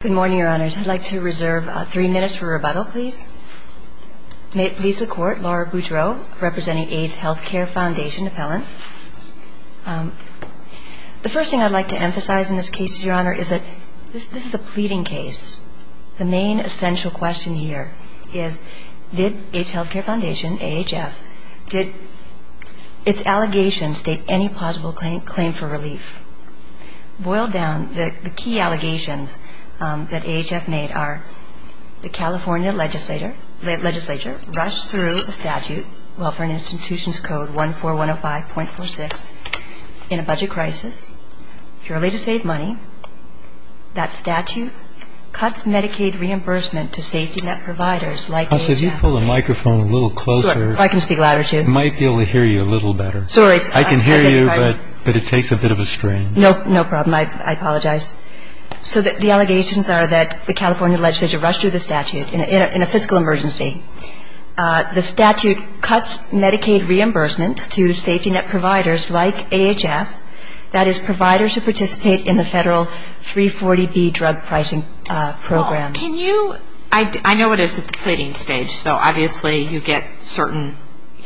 Good morning, Your Honors. I'd like to reserve three minutes for rebuttal, please. May it please the Court, Laura Boudreau representing Aids Healthcare Foundation appellant. The first thing I'd like to emphasize in this case, Your Honor, is that this is a pleading case. The main essential question here is did Aids Healthcare Foundation, AHF, did its allegations state any plausible claim for relief? Boiled down, the key allegations that AHF made are the California legislature rushed through a statute, Welfare and Institutions Code 14105.46, in a budget crisis, purely to save money. That statute cuts Medicaid reimbursement to safety net providers like AHF. Can you pull the microphone a little closer? I can speak louder, too. I might be able to hear you a little better. Sorry. I can hear you, but it takes a bit of a strain. No problem. I apologize. So the allegations are that the California legislature rushed through the statute in a fiscal emergency. The statute cuts Medicaid reimbursement to safety net providers like AHF, that is providers who participate in the federal 340B drug pricing program. I know it is at the pleading stage, so obviously you get certain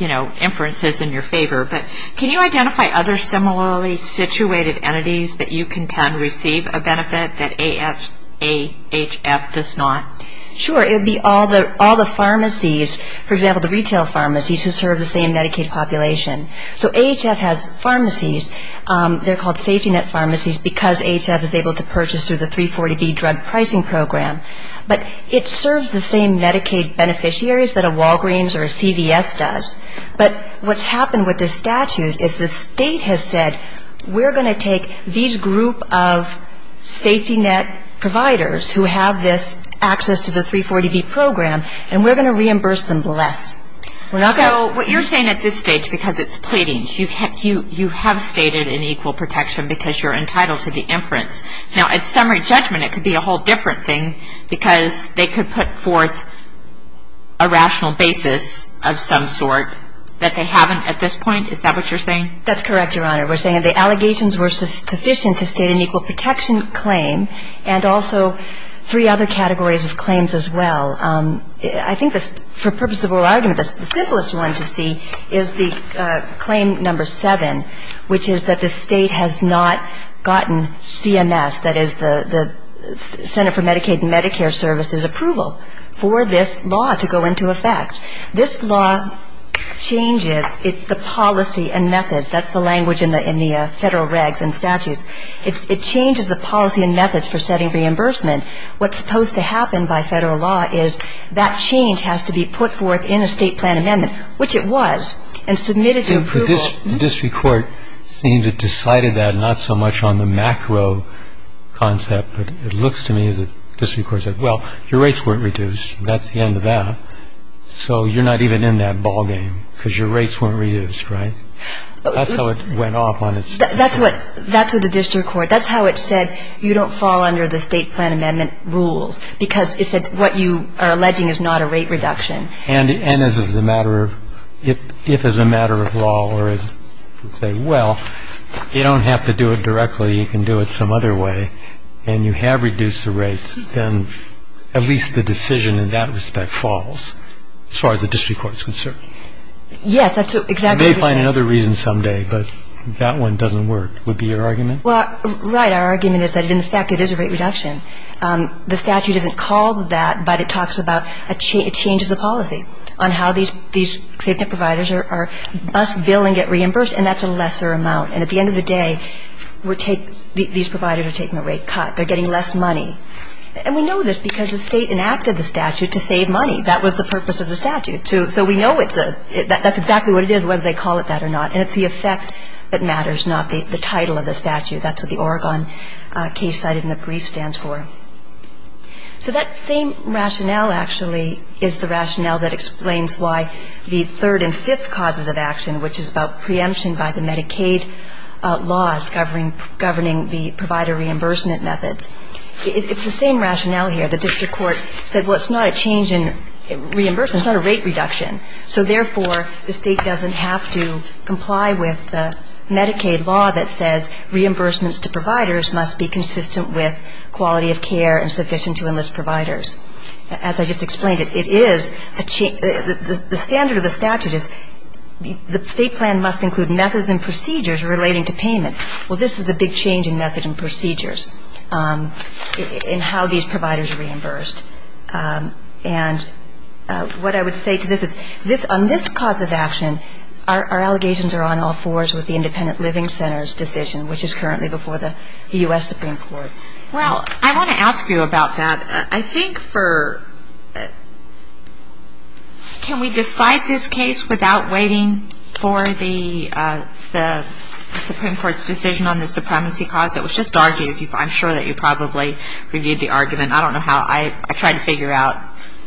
inferences in your favor, but can you identify other similarly situated entities that you contend receive a benefit that AHF does not? Sure. It would be all the pharmacies, for example, the retail pharmacies, who serve the same Medicaid population. So AHF has pharmacies. They're called safety net pharmacies because AHF is able to purchase through the 340B drug pricing program. But it serves the same Medicaid beneficiaries that a Walgreens or a CVS does. But what's happened with this statute is the state has said, we're going to take these group of safety net providers who have this access to the 340B program, and we're going to reimburse them less. So what you're saying at this stage, because it's pleadings, you have stated an equal protection because you're entitled to the inference. Now, at summary judgment, it could be a whole different thing, because they could put forth a rational basis of some sort that they haven't at this point. Is that what you're saying? That's correct, Your Honor. We're saying the allegations were sufficient to state an equal protection claim and also three other categories of claims as well. I think for purposes of oral argument, the simplest one to see is the claim number seven, which is that the state has not gotten CMS, that is the Center for Medicaid and Medicare Services, approval for this law to go into effect. This law changes the policy and methods. That's the language in the federal regs and statutes. It changes the policy and methods for setting reimbursement. What's supposed to happen by federal law is that change has to be put forth in a state plan amendment, which it was, and submitted to approval. The district court seemed to have decided that not so much on the macro concept, but it looks to me as if the district court said, well, your rates weren't reduced, that's the end of that, so you're not even in that ballgame because your rates weren't reduced, right? That's how it went off on its own. That's what the district court, that's how it said, you don't fall under the state plan amendment rules because it said what you are alleging is not a rate reduction. And as a matter of, if as a matter of law, or as you say, well, you don't have to do it directly, you can do it some other way, and you have reduced the rates, then at least the decision in that respect falls as far as the district court is concerned. Yes, that's exactly the same. They find another reason someday, but that one doesn't work, would be your argument? Well, right. Our argument is that in effect it is a rate reduction. The statute isn't called that, but it talks about a change of the policy on how these safety net providers are bused, billed, and get reimbursed, and that's a lesser amount. And at the end of the day, these providers are taking a rate cut. They're getting less money. And we know this because the State enacted the statute to save money. That was the purpose of the statute. So we know it's a, that's exactly what it is, whether they call it that or not. And it's the effect that matters, not the title of the statute. That's what the Oregon case cited in the brief stands for. So that same rationale, actually, is the rationale that explains why the third and fifth causes of action, which is about preemption by the Medicaid laws governing the provider reimbursement methods. It's the same rationale here. The district court said, well, it's not a change in reimbursement, it's not a rate reduction. So, therefore, the State doesn't have to comply with the Medicaid law that says reimbursements to providers must be consistent with quality of care and sufficient to enlist providers. As I just explained, it is a change. The standard of the statute is the State plan must include methods and procedures relating to payment. Well, this is a big change in method and procedures in how these providers are reimbursed. And what I would say to this is, on this cause of action, our allegations are on all fours with the Independent Living Centers decision, which is currently before the U.S. Supreme Court. Well, I want to ask you about that. I think for, can we decide this case without waiting for the Supreme Court's decision on the supremacy cause? It was just argued. I'm sure that you probably reviewed the argument. I don't know how. I tried to figure out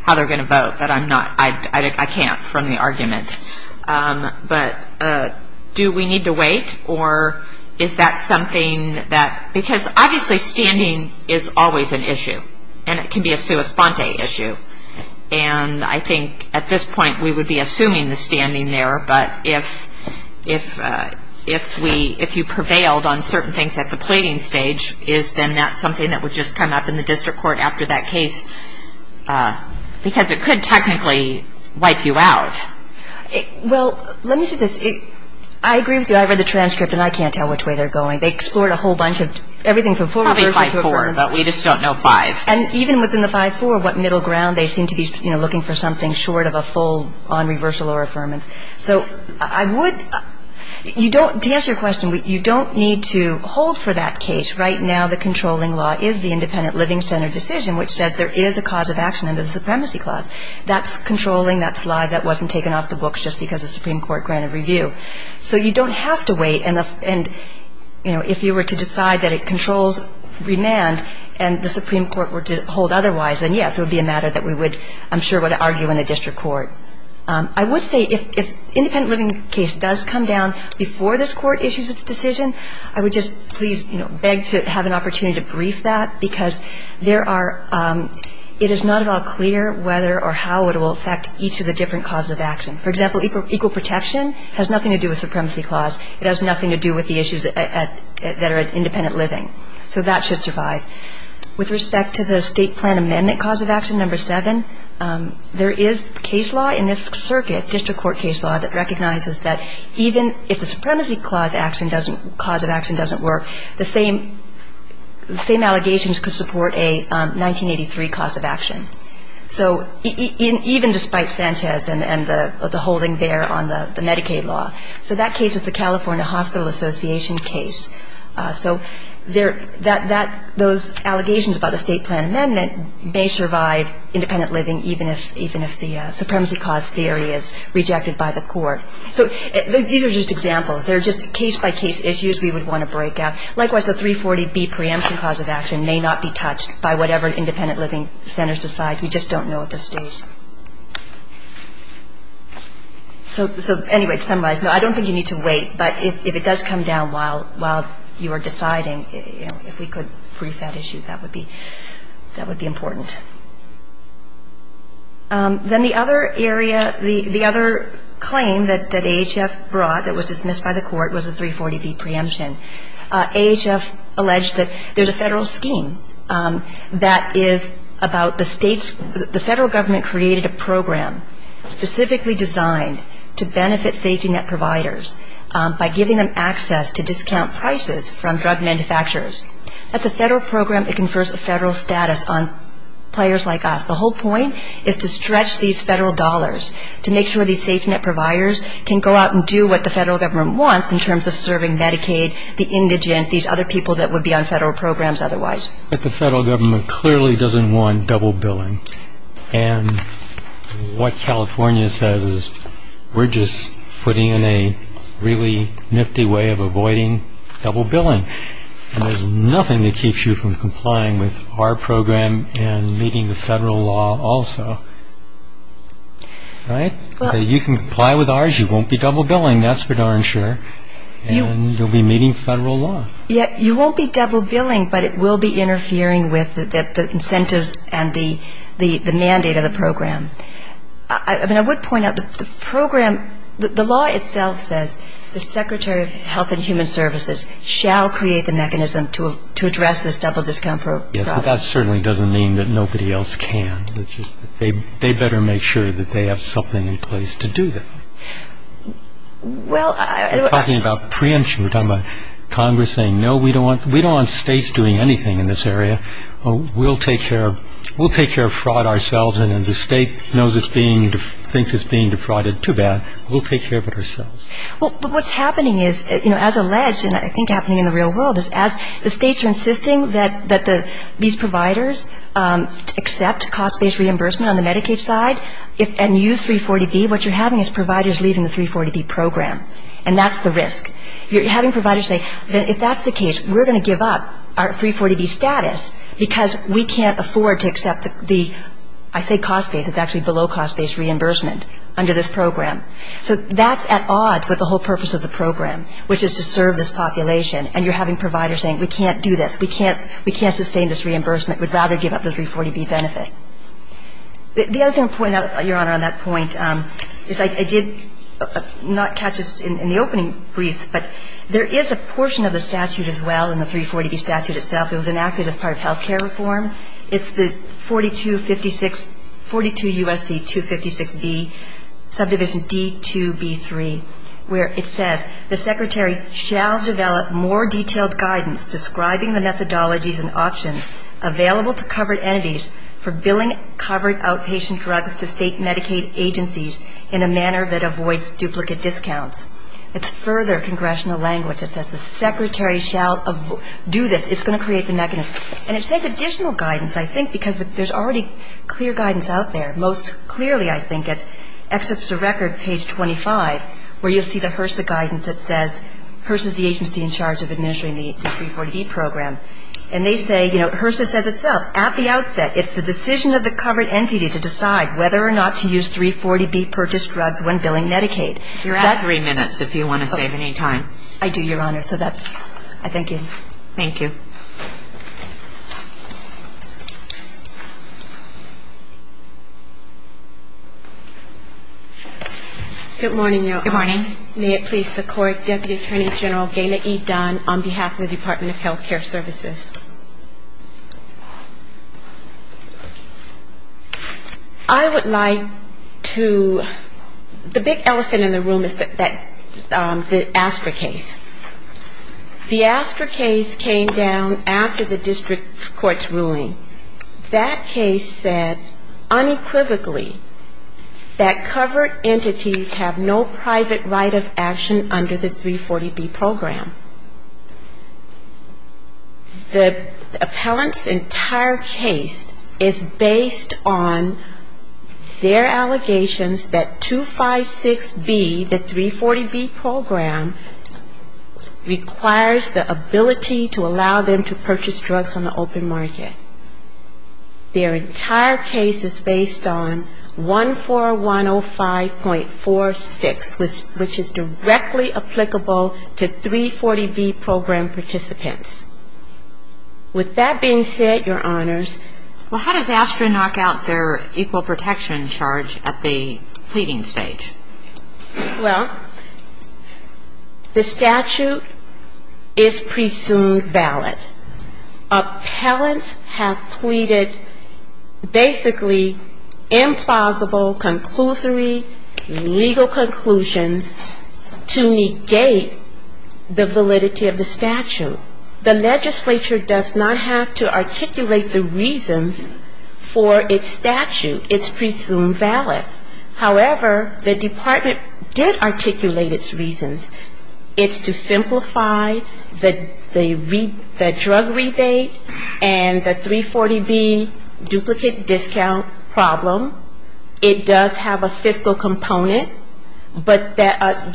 how they're going to vote, but I'm not, I can't from the argument. But do we need to wait, or is that something that, because obviously standing is always an issue, and it can be a sua sponte issue. And I think at this point we would be assuming the standing there, but if we, if you prevailed on certain things at the pleading stage, is then that something that would just come up in the district court after that case? Because it could technically wipe you out. Well, let me say this. I agree with you. I read the transcript, and I can't tell which way they're going. They explored a whole bunch of, everything from full reversal to affirmance. Probably 5-4, but we just don't know 5. And even within the 5-4, what middle ground, they seem to be looking for something short of a full on reversal or affirmance. So I would, you don't, to answer your question, you don't need to hold for that case. Right now the controlling law is the independent living center decision, which says there is a cause of action under the supremacy clause. That's controlling. That's live. That wasn't taken off the books just because the Supreme Court granted review. So you don't have to wait. And, you know, if you were to decide that it controls remand and the Supreme Court were to hold otherwise, then, yes, it would be a matter that we would, I'm sure, would argue in the district court. I would say if independent living case does come down before this court issues its decision, I would just please, you know, beg to have an opportunity to brief that, because there are, it is not at all clear whether or how it will affect each of the different causes of action. For example, equal protection has nothing to do with supremacy clause. It has nothing to do with the issues that are independent living. So that should survive. With respect to the state plan amendment cause of action, number 7, there is case law in this circuit, district court case law, that recognizes that even if the supremacy clause action doesn't, cause of action doesn't work, the same allegations could support a 1983 cause of action. So even despite Sanchez and the holding there on the Medicaid law. So that case was the California Hospital Association case. So those allegations about the state plan amendment may survive independent living, even if the supremacy clause theory is rejected by the court. So these are just examples. They're just case-by-case issues we would want to break out. Likewise, the 340B preemption cause of action may not be touched by whatever independent living centers decide. We just don't know at this stage. So anyway, to summarize, no, I don't think you need to wait. But if it does come down while you are deciding, you know, if we could brief that issue, that would be important. Then the other area, the other claim that AHF brought that was dismissed by the court was the 340B preemption. AHF alleged that there's a federal scheme that is about the state's, created a program specifically designed to benefit safety net providers by giving them access to discount prices from drug manufacturers. That's a federal program that confers a federal status on players like us. The whole point is to stretch these federal dollars to make sure these safety net providers can go out and do what the federal government wants in terms of serving Medicaid, the indigent, these other people that would be on federal programs otherwise. But the federal government clearly doesn't want double billing. And what California says is we're just putting in a really nifty way of avoiding double billing. And there's nothing that keeps you from complying with our program and meeting the federal law also. Right? You can comply with ours. You won't be double billing, that's for darn sure. And you'll be meeting federal law. Yet you won't be double billing, but it will be interfering with the incentives and the mandate of the program. I mean, I would point out the program, the law itself says the Secretary of Health and Human Services shall create the mechanism to address this double discount problem. Yes, but that certainly doesn't mean that nobody else can. They better make sure that they have something in place to do that. Well, I don't know. We're talking about preemption. We're talking about Congress saying, no, we don't want states doing anything in this area. We'll take care of fraud ourselves. And if the state knows it's being, thinks it's being defrauded too bad, we'll take care of it ourselves. Well, but what's happening is, you know, as alleged, and I think happening in the real world, is as the states are insisting that these providers accept cost-based reimbursement on the Medicaid side and use 340B, what you're having is providers leaving the 340B program. And that's the risk. You're having providers say, if that's the case, we're going to give up our 340B status because we can't afford to accept the, I say cost-based, it's actually below-cost-based reimbursement under this program. So that's at odds with the whole purpose of the program, which is to serve this population. And you're having providers saying, we can't do this. We can't sustain this reimbursement. We'd rather give up the 340B benefit. The other thing I'll point out, Your Honor, on that point is I did not catch this in the opening briefs, but there is a portion of the statute as well in the 340B statute itself that was enacted as part of health care reform. It's the 4256, 42 U.S.C. 256B, subdivision D2B3, where it says, the Secretary shall develop more detailed guidance describing the methodologies and options available to covered entities for billing covered outpatient drugs to state Medicaid agencies in a manner that avoids duplicate discounts. It's further congressional language. It says, the Secretary shall do this. It's going to create the mechanism. And it says additional guidance, I think, because there's already clear guidance out there. Most clearly, I think, it excerpts a record, page 25, where you'll see the HRSA guidance that says, HRSA's the agency in charge of administering the 340B program. And they say, you know, HRSA says itself, at the outset, it's the decision of the covered entity to decide whether or not to use 340B purchased drugs when billing Medicaid. You're at three minutes, if you want to save any time. I do, Your Honor. So that's, I thank you. Good morning, Your Honors. Good morning. May it please the Court, Deputy Attorney General Gayla E. Dunn, on behalf of the Department of Health Care Services. I would like to, the big elephant in the room is that, the ASTRA case. The ASTRA case came down after the district court's ruling. That case said unequivocally that covered entities have no private right of action under the 340B program. The appellant's entire case is based on their allegations that 256B, the 340B program, requires the ability to allow them to purchase drugs on the open market. Their entire case is based on 14105.46, which is directly applicable to 340B program participants. With that being said, Your Honors. Well, how does ASTRA knock out their equal protection charge at the pleading stage? Well, the statute is presumed valid. Appellants have pleaded basically implausible conclusory legal conclusions to negate the validity of the statute. The legislature does not have to articulate the reasons for its statute. It's presumed valid. However, the department did articulate its reasons. It's to simplify the drug rebate and the 340B duplicate discount problem. It does have a fiscal component, but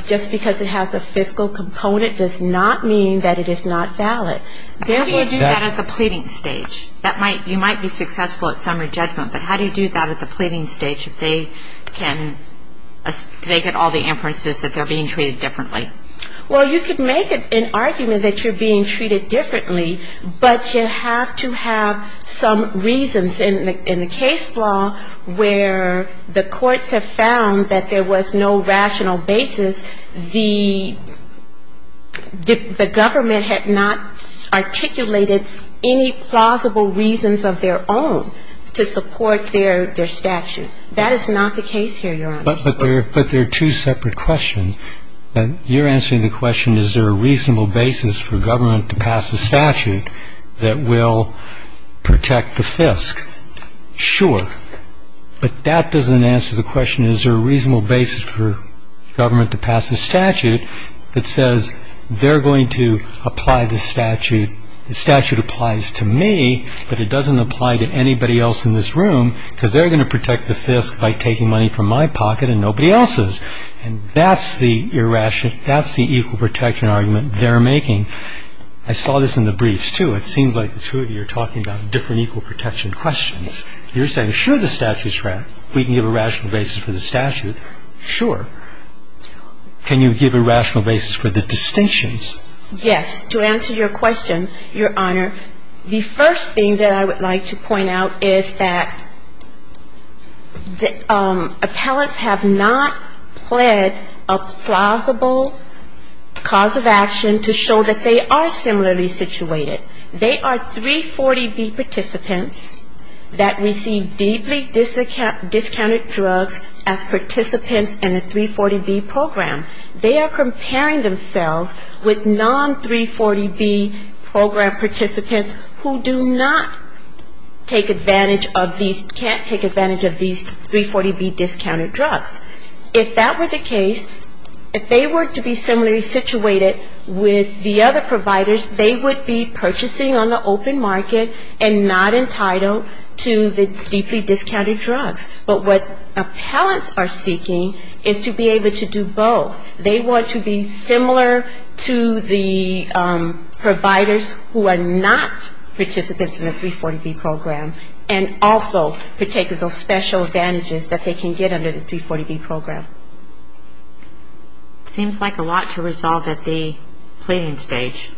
just because it has a fiscal component does not mean that it is not valid. How do you do that at the pleading stage? That might, you might be successful at summary judgment, but how do you do that at the pleading stage if they can, they get all the inferences that they're being treated differently? Well, you could make an argument that you're being treated differently, but you have to have some reasons. In the case law where the courts have found that there was no rational basis, the government had not articulated any plausible reasons of their own to support their statute. That is not the case here, Your Honor. But there are two separate questions. You're answering the question, is there a reasonable basis for government to pass a statute that will protect the fisc? Sure. But that doesn't answer the question, is there a reasonable basis for government to pass a statute that says they're going to apply the statute, the statute applies to me, but it doesn't apply to anybody else in this room, because they're going to protect the fisc by taking money from my pocket and nobody else's. And that's the irrational, that's the equal protection argument they're making. I saw this in the briefs, too. It seems like the two of you are talking about different equal protection questions. You're saying, sure, the statute's right. We can give a rational basis for the statute. Sure. Can you give a rational basis for the distinctions? Yes. To answer your question, Your Honor, the first thing that I would like to point out is that appellants have not pled a plausible cause of action to show that they are similarly situated. They are 340B participants that receive deeply discounted drugs as participants in the 340B program. They are comparing themselves with non-340B program participants who do not take advantage of these, can't take advantage of these 340B discounted drugs. If that were the case, if they were to be similarly situated with the other providers, they would be purchasing on the open market and not entitled to the deeply discounted drugs. But what appellants are seeking is to be able to do both. They want to be similar to the providers who are not participants in the 340B program and also partake of those special advantages that they can get under the 340B program. Seems like a lot to resolve at the pleading stage.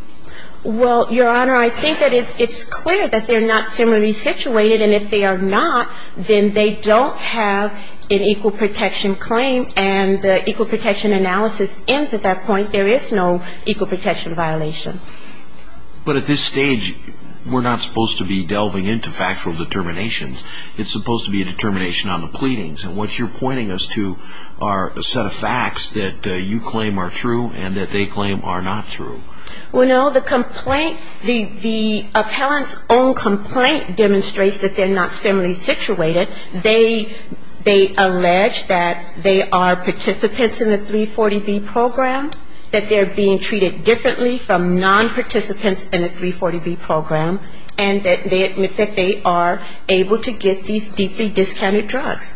Well, Your Honor, I think that it's clear that they're not similarly situated. And if they are not, then they don't have an equal protection claim. And the equal protection analysis ends at that point. There is no equal protection violation. But at this stage, we're not supposed to be delving into factual determinations. It's supposed to be a determination on the pleadings. And what you're pointing us to are a set of facts that you claim are true and that they claim are not true. Well, no, the complaint, the appellant's own complaint demonstrates that they're not similarly situated. They allege that they are participants in the 340B program, that they're being treated differently from non- participants in the 340B program, and that they admit that they are able to get these deeply discounted drugs.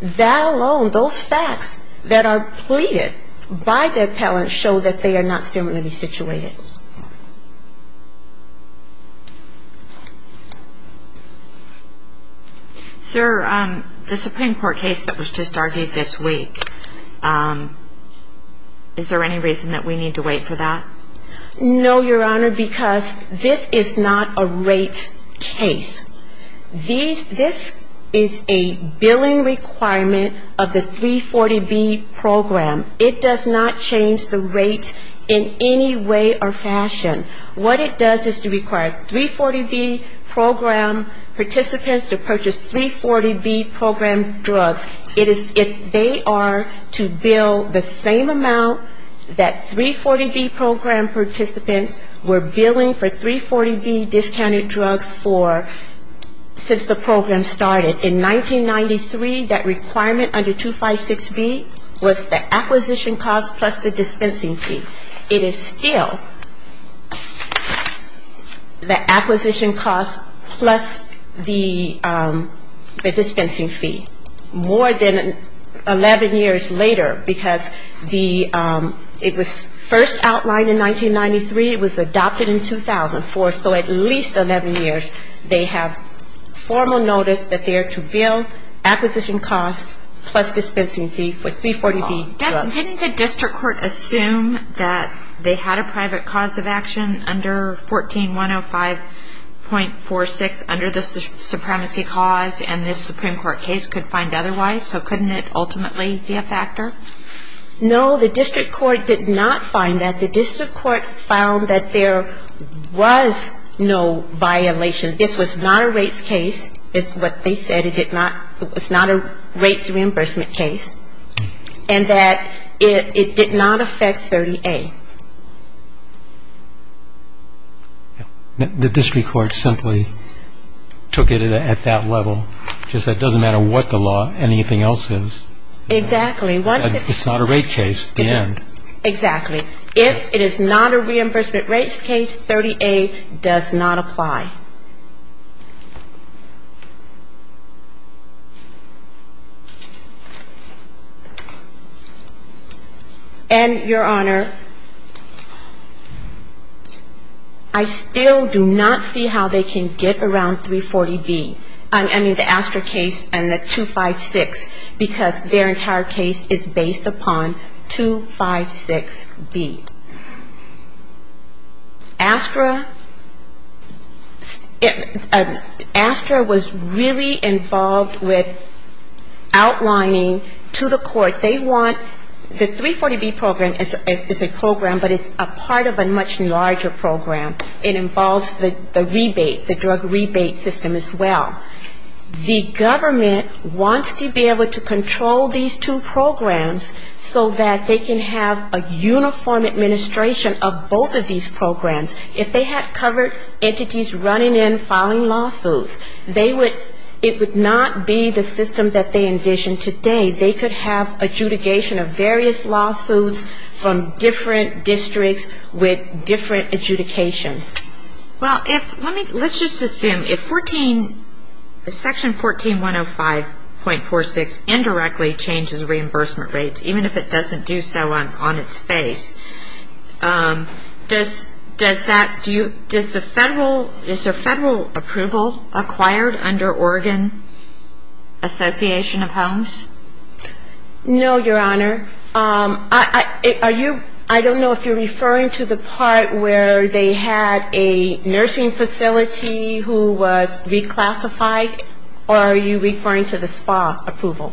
That alone, those facts that are pleaded by the appellant show that they are not similarly situated. Sir, the Supreme Court case that was just argued this week, is there any reason that we need to wait for that? No, Your Honor, because this is not a rates case. This is a billing requirement of the 340B program. It does not change the rates in any way or fashion. What it does is to require 340B program participants to purchase 340B program drugs. It is if they are to bill the same amount that 340B program participants were billing for 340B discounted drugs for since the program started. In 1993, that requirement under 256B was the acquisition cost plus the dispensing fee. It is still the acquisition cost plus the dispensing fee. More than 11 years later, because it was first outlined in 1993, it was adopted in 2004, so at least 11 years they have formal notice that they are to bill acquisition cost plus dispensing fee for 340B drugs. Didn't the district court assume that they had a private cause of action under 14105.46 under the supremacy cause, and this Supreme Court case could find otherwise, so couldn't it ultimately be a factor? No, the district court did not find that. The district court found that there was no violation. This was not a rates case. This is what they said. It was not a rates reimbursement case. And that it did not affect 30A. The district court simply took it at that level, just that it doesn't matter what the law, anything else is. Exactly. If it is not a reimbursement rates case, 30A does not apply. And, Your Honor, I still do not see how they can get around 340B. I mean, the ASTRA case and the 256, because their entire case is based upon 256B. ASTRA was really involved with outlining to the court, they want the 340B program is a program, but it's a part of a much larger program. It involves the rebate, the drug rebate system as well. The government wants to be able to control these two programs so that they can have a uniform administration of both of these programs. If they had covered entities running in, filing lawsuits, they would, it would not be the system that they envisioned today. They could have adjudication of various lawsuits from different districts with different adjudications. Well, let's just assume, if Section 14105.46 indirectly changes reimbursement rates, even if it doesn't do so on its face, does that, does the federal, is there federal approval acquired under Oregon Association of Homes? No, Your Honor. I don't know if you're referring to the part where they had, you know, they had, you know, the nursing facility who was reclassified, or are you referring to the SPA approval?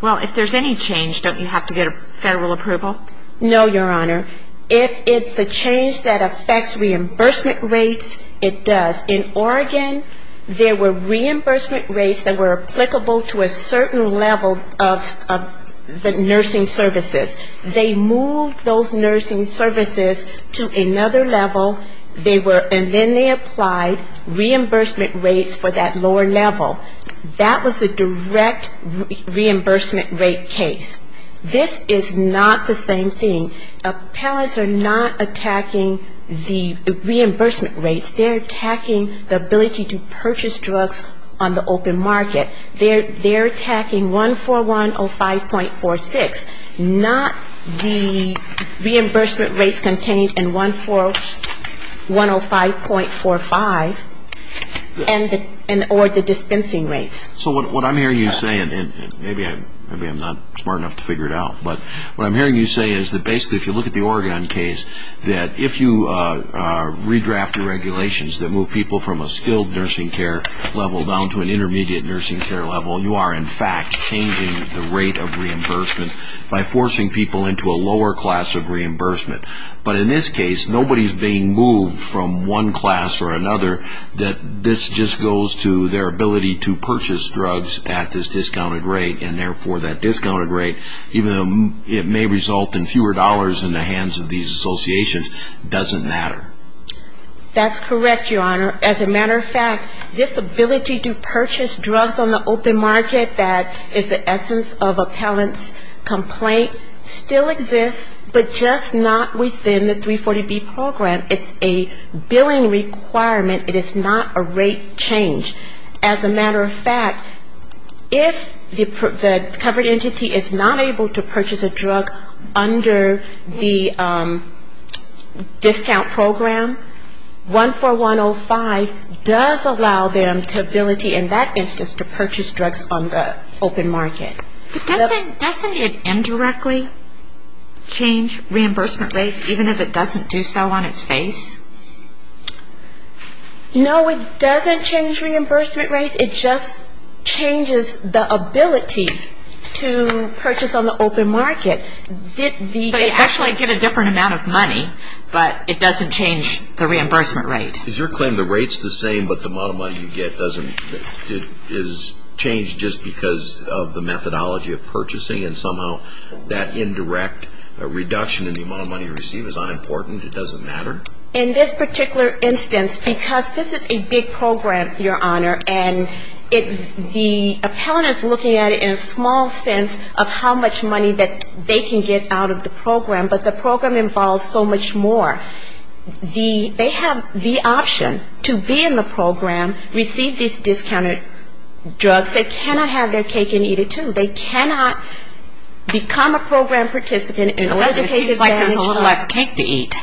Well, if there's any change, don't you have to get a federal approval? No, Your Honor. If it's a change that affects reimbursement rates, it does. In Oregon, there were reimbursement rates that were applicable to a certain level of the nursing services. They moved those nursing services to another level they were, and then they applied reimbursement rates for that lower level. That was a direct reimbursement rate case. This is not the same thing. Appellants are not attacking the reimbursement rates. They're attacking the ability to purchase drugs on the open market. They're attacking 14105.46, not the reimbursement rates contained in 14105.46. 105.45, or the dispensing rates. So what I'm hearing you say, and maybe I'm not smart enough to figure it out, but what I'm hearing you say is that basically if you look at the Oregon case, that if you redraft the regulations that move people from a skilled nursing care level down to an intermediate nursing care level, you are in fact changing the rate of reimbursement by forcing people into a lower class of reimbursement. But in this case, nobody's being moved from one class or another. This just goes to their ability to purchase drugs at this discounted rate, and therefore that discounted rate, even though it may result in fewer dollars in the hands of these associations, doesn't matter. That's correct, Your Honor. As a matter of fact, this ability to purchase drugs on the open market that is the essence of this case, it still exists, but just not within the 340B program. It's a billing requirement. It is not a rate change. As a matter of fact, if the covered entity is not able to purchase a drug under the discount program, 14105 does allow them the ability in that instance to purchase drugs on the open market. But doesn't it indirectly change reimbursement rates, even if it doesn't do so on its face? No, it doesn't change reimbursement rates. It just changes the ability to purchase on the open market. So you actually get a different amount of money, but it doesn't change the reimbursement rate. Is your claim the rate's the same, but the amount of money you get is changed just because of the methodology? And somehow that indirect reduction in the amount of money you receive is unimportant? It doesn't matter? In this particular instance, because this is a big program, Your Honor, and the appellant is looking at it in a small sense of how much money that they can get out of the program, but the program involves so much more. They have the option to be in the program, receive these discounted drugs. They cannot have their cake and eat it, too. They cannot become a program participant in order to take advantage of it. It seems like there's a little less cake to eat,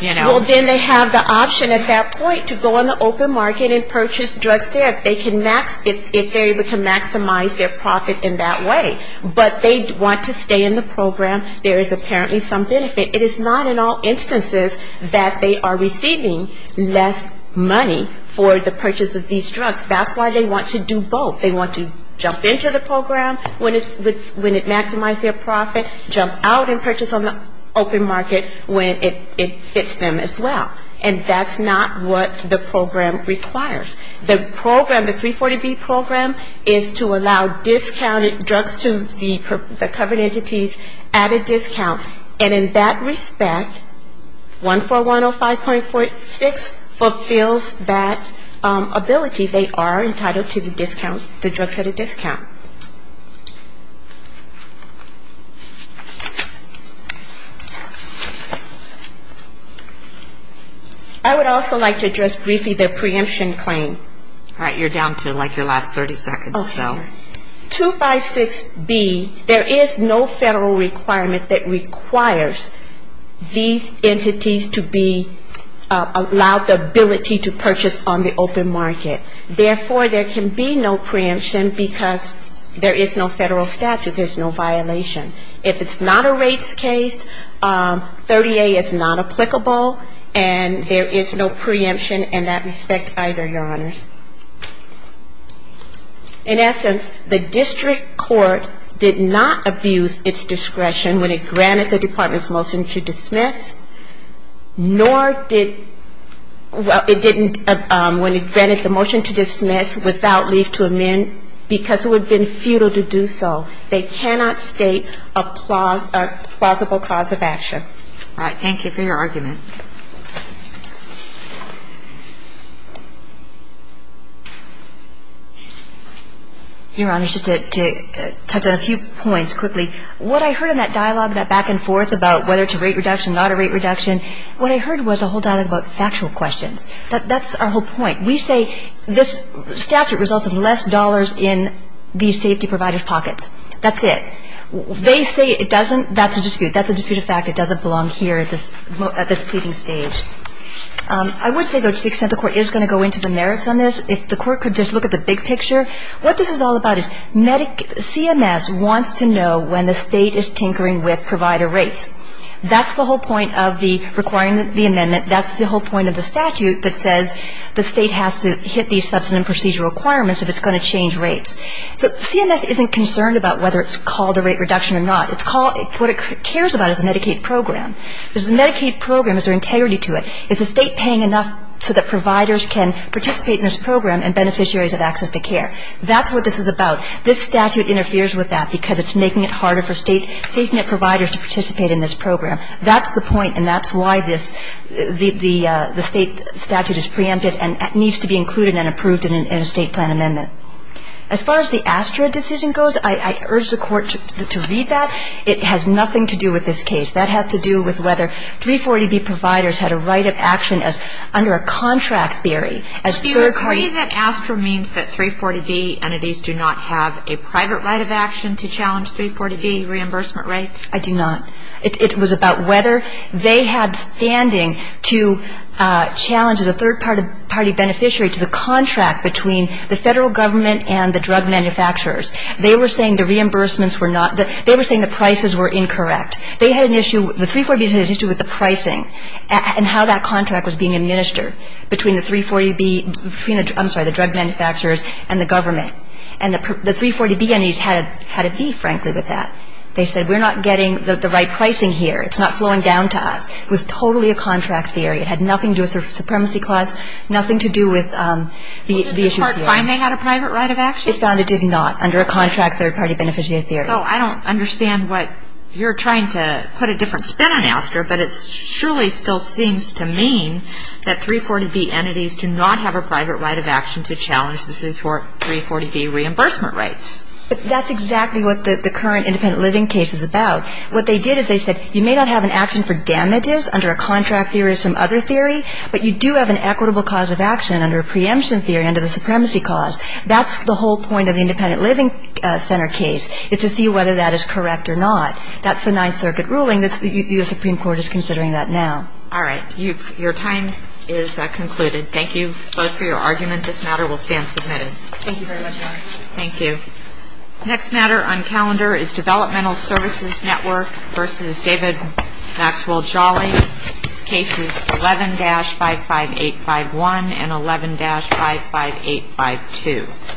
you know. Well, then they have the option at that point to go on the open market and purchase drugs there if they're able to maximize their profit in that way. But they want to stay in the program. There is apparently some benefit. It is not in all instances that they are receiving less money for the purchase of these drugs. That's why they want to do their program when it maximizes their profit, jump out and purchase on the open market when it fits them as well. And that's not what the program requires. The program, the 340B program, is to allow discounted drugs to the covered entities at a discount. And in that respect, 14105.6 fulfills that ability. They are entitled to the discount, the drugs at a discount. I would also like to address briefly the preemption claim. All right. You're down to like your last 30 seconds, so. 256B, there is no federal requirement that requires these entities to be allowed the ability to purchase on the open market. Therefore, there can be no preemption because there is no federal statute. There's no violation. If it's not a rates case, 30A is not applicable, and there is no preemption in that respect either, Your Honors. In essence, the district court did not abuse its discretion when it granted the department's motion to dismiss, nor did, well, it didn't when it granted the motion to dismiss without leave to amend because it would have been futile to do so. They cannot state a plausible cause of action. All right. Thank you for your argument. Your Honors, just to touch on a few points quickly. What I heard in that dialogue, that back and forth about whether it's a rate reduction, not a rate reduction, what I heard was a whole dialogue about factual questions. That's our whole point. We say this statute results in less dollars in the safety provider's pockets. That's it. They say it doesn't. That's a dispute. That's a disputed fact. It doesn't belong here at this pleading stage. I would say, though, to the extent the court is going to go into the merits on this, if the court could just look at the big picture, what this is all about is CMS wants to know when the State is tinkering with provider rates. That's the whole point of requiring the amendment. That's the whole point of the statute that says the State has to hit these substantive procedural requirements if it's going to change rates. So CMS isn't concerned about whether it's called a rate reduction or not. What it cares about is the Medicaid program. Is the Medicaid program, is there integrity to it? Is the State paying enough so that providers can participate in this program and beneficiaries have access to care? That's what this is about. This statute interferes with that because it's making it harder for State safety net providers to participate in this program. That's the point, and that's why this the State statute is preempted and needs to be included and approved in a State plan amendment. As far as the ASTRA decision goes, I urge the Court to read that. It has nothing to do with this case. That has to do with whether 340B providers had a right of action under a contract theory. As third party But do you agree that ASTRA means that 340B entities do not have a private right of action to challenge 340B reimbursement rates? I do not. It was about whether they had standing to challenge the third-party beneficiary to the contract between the Federal Government and the drug manufacturers. They were saying the reimbursements were not the they were saying the prices were incorrect. They had an issue the 340B had an issue with the pricing and how that contract was being administered between the 340B between the I'm sorry the drug manufacturers and the government. And the 340B entities had a beef, frankly, with that. They said we're not getting the right pricing here. It's not flowing down to us. It was totally a contract theory. It had nothing to do with a supremacy clause, nothing to do with the issues here. Well, did the Court find they had a private right of action? It found it did not under a contract third-party beneficiary theory. So I don't understand what you're trying to put a different spin on ASTRA, but it surely still seems to mean that 340B entities do not have a private right of action to challenge the 340B reimbursement rates. But that's exactly what the current independent living case is about. What they did is they said you may not have an action for damages under a contract theory or some other theory, but you do have an equitable cause of action under a preemption theory under the supremacy clause. That's the whole point of the independent living center case is to see whether that is correct or not. That's the Ninth Circuit ruling. The U.S. Supreme Court is considering that now. All right. Your time is concluded. Thank you both for your argument. This matter will stand submitted. Thank you very much, Laura. Thank you. Next matter on calendar is Developmental Services Network v. David Maxwell Jolly, cases 11-55851 and 11-55852.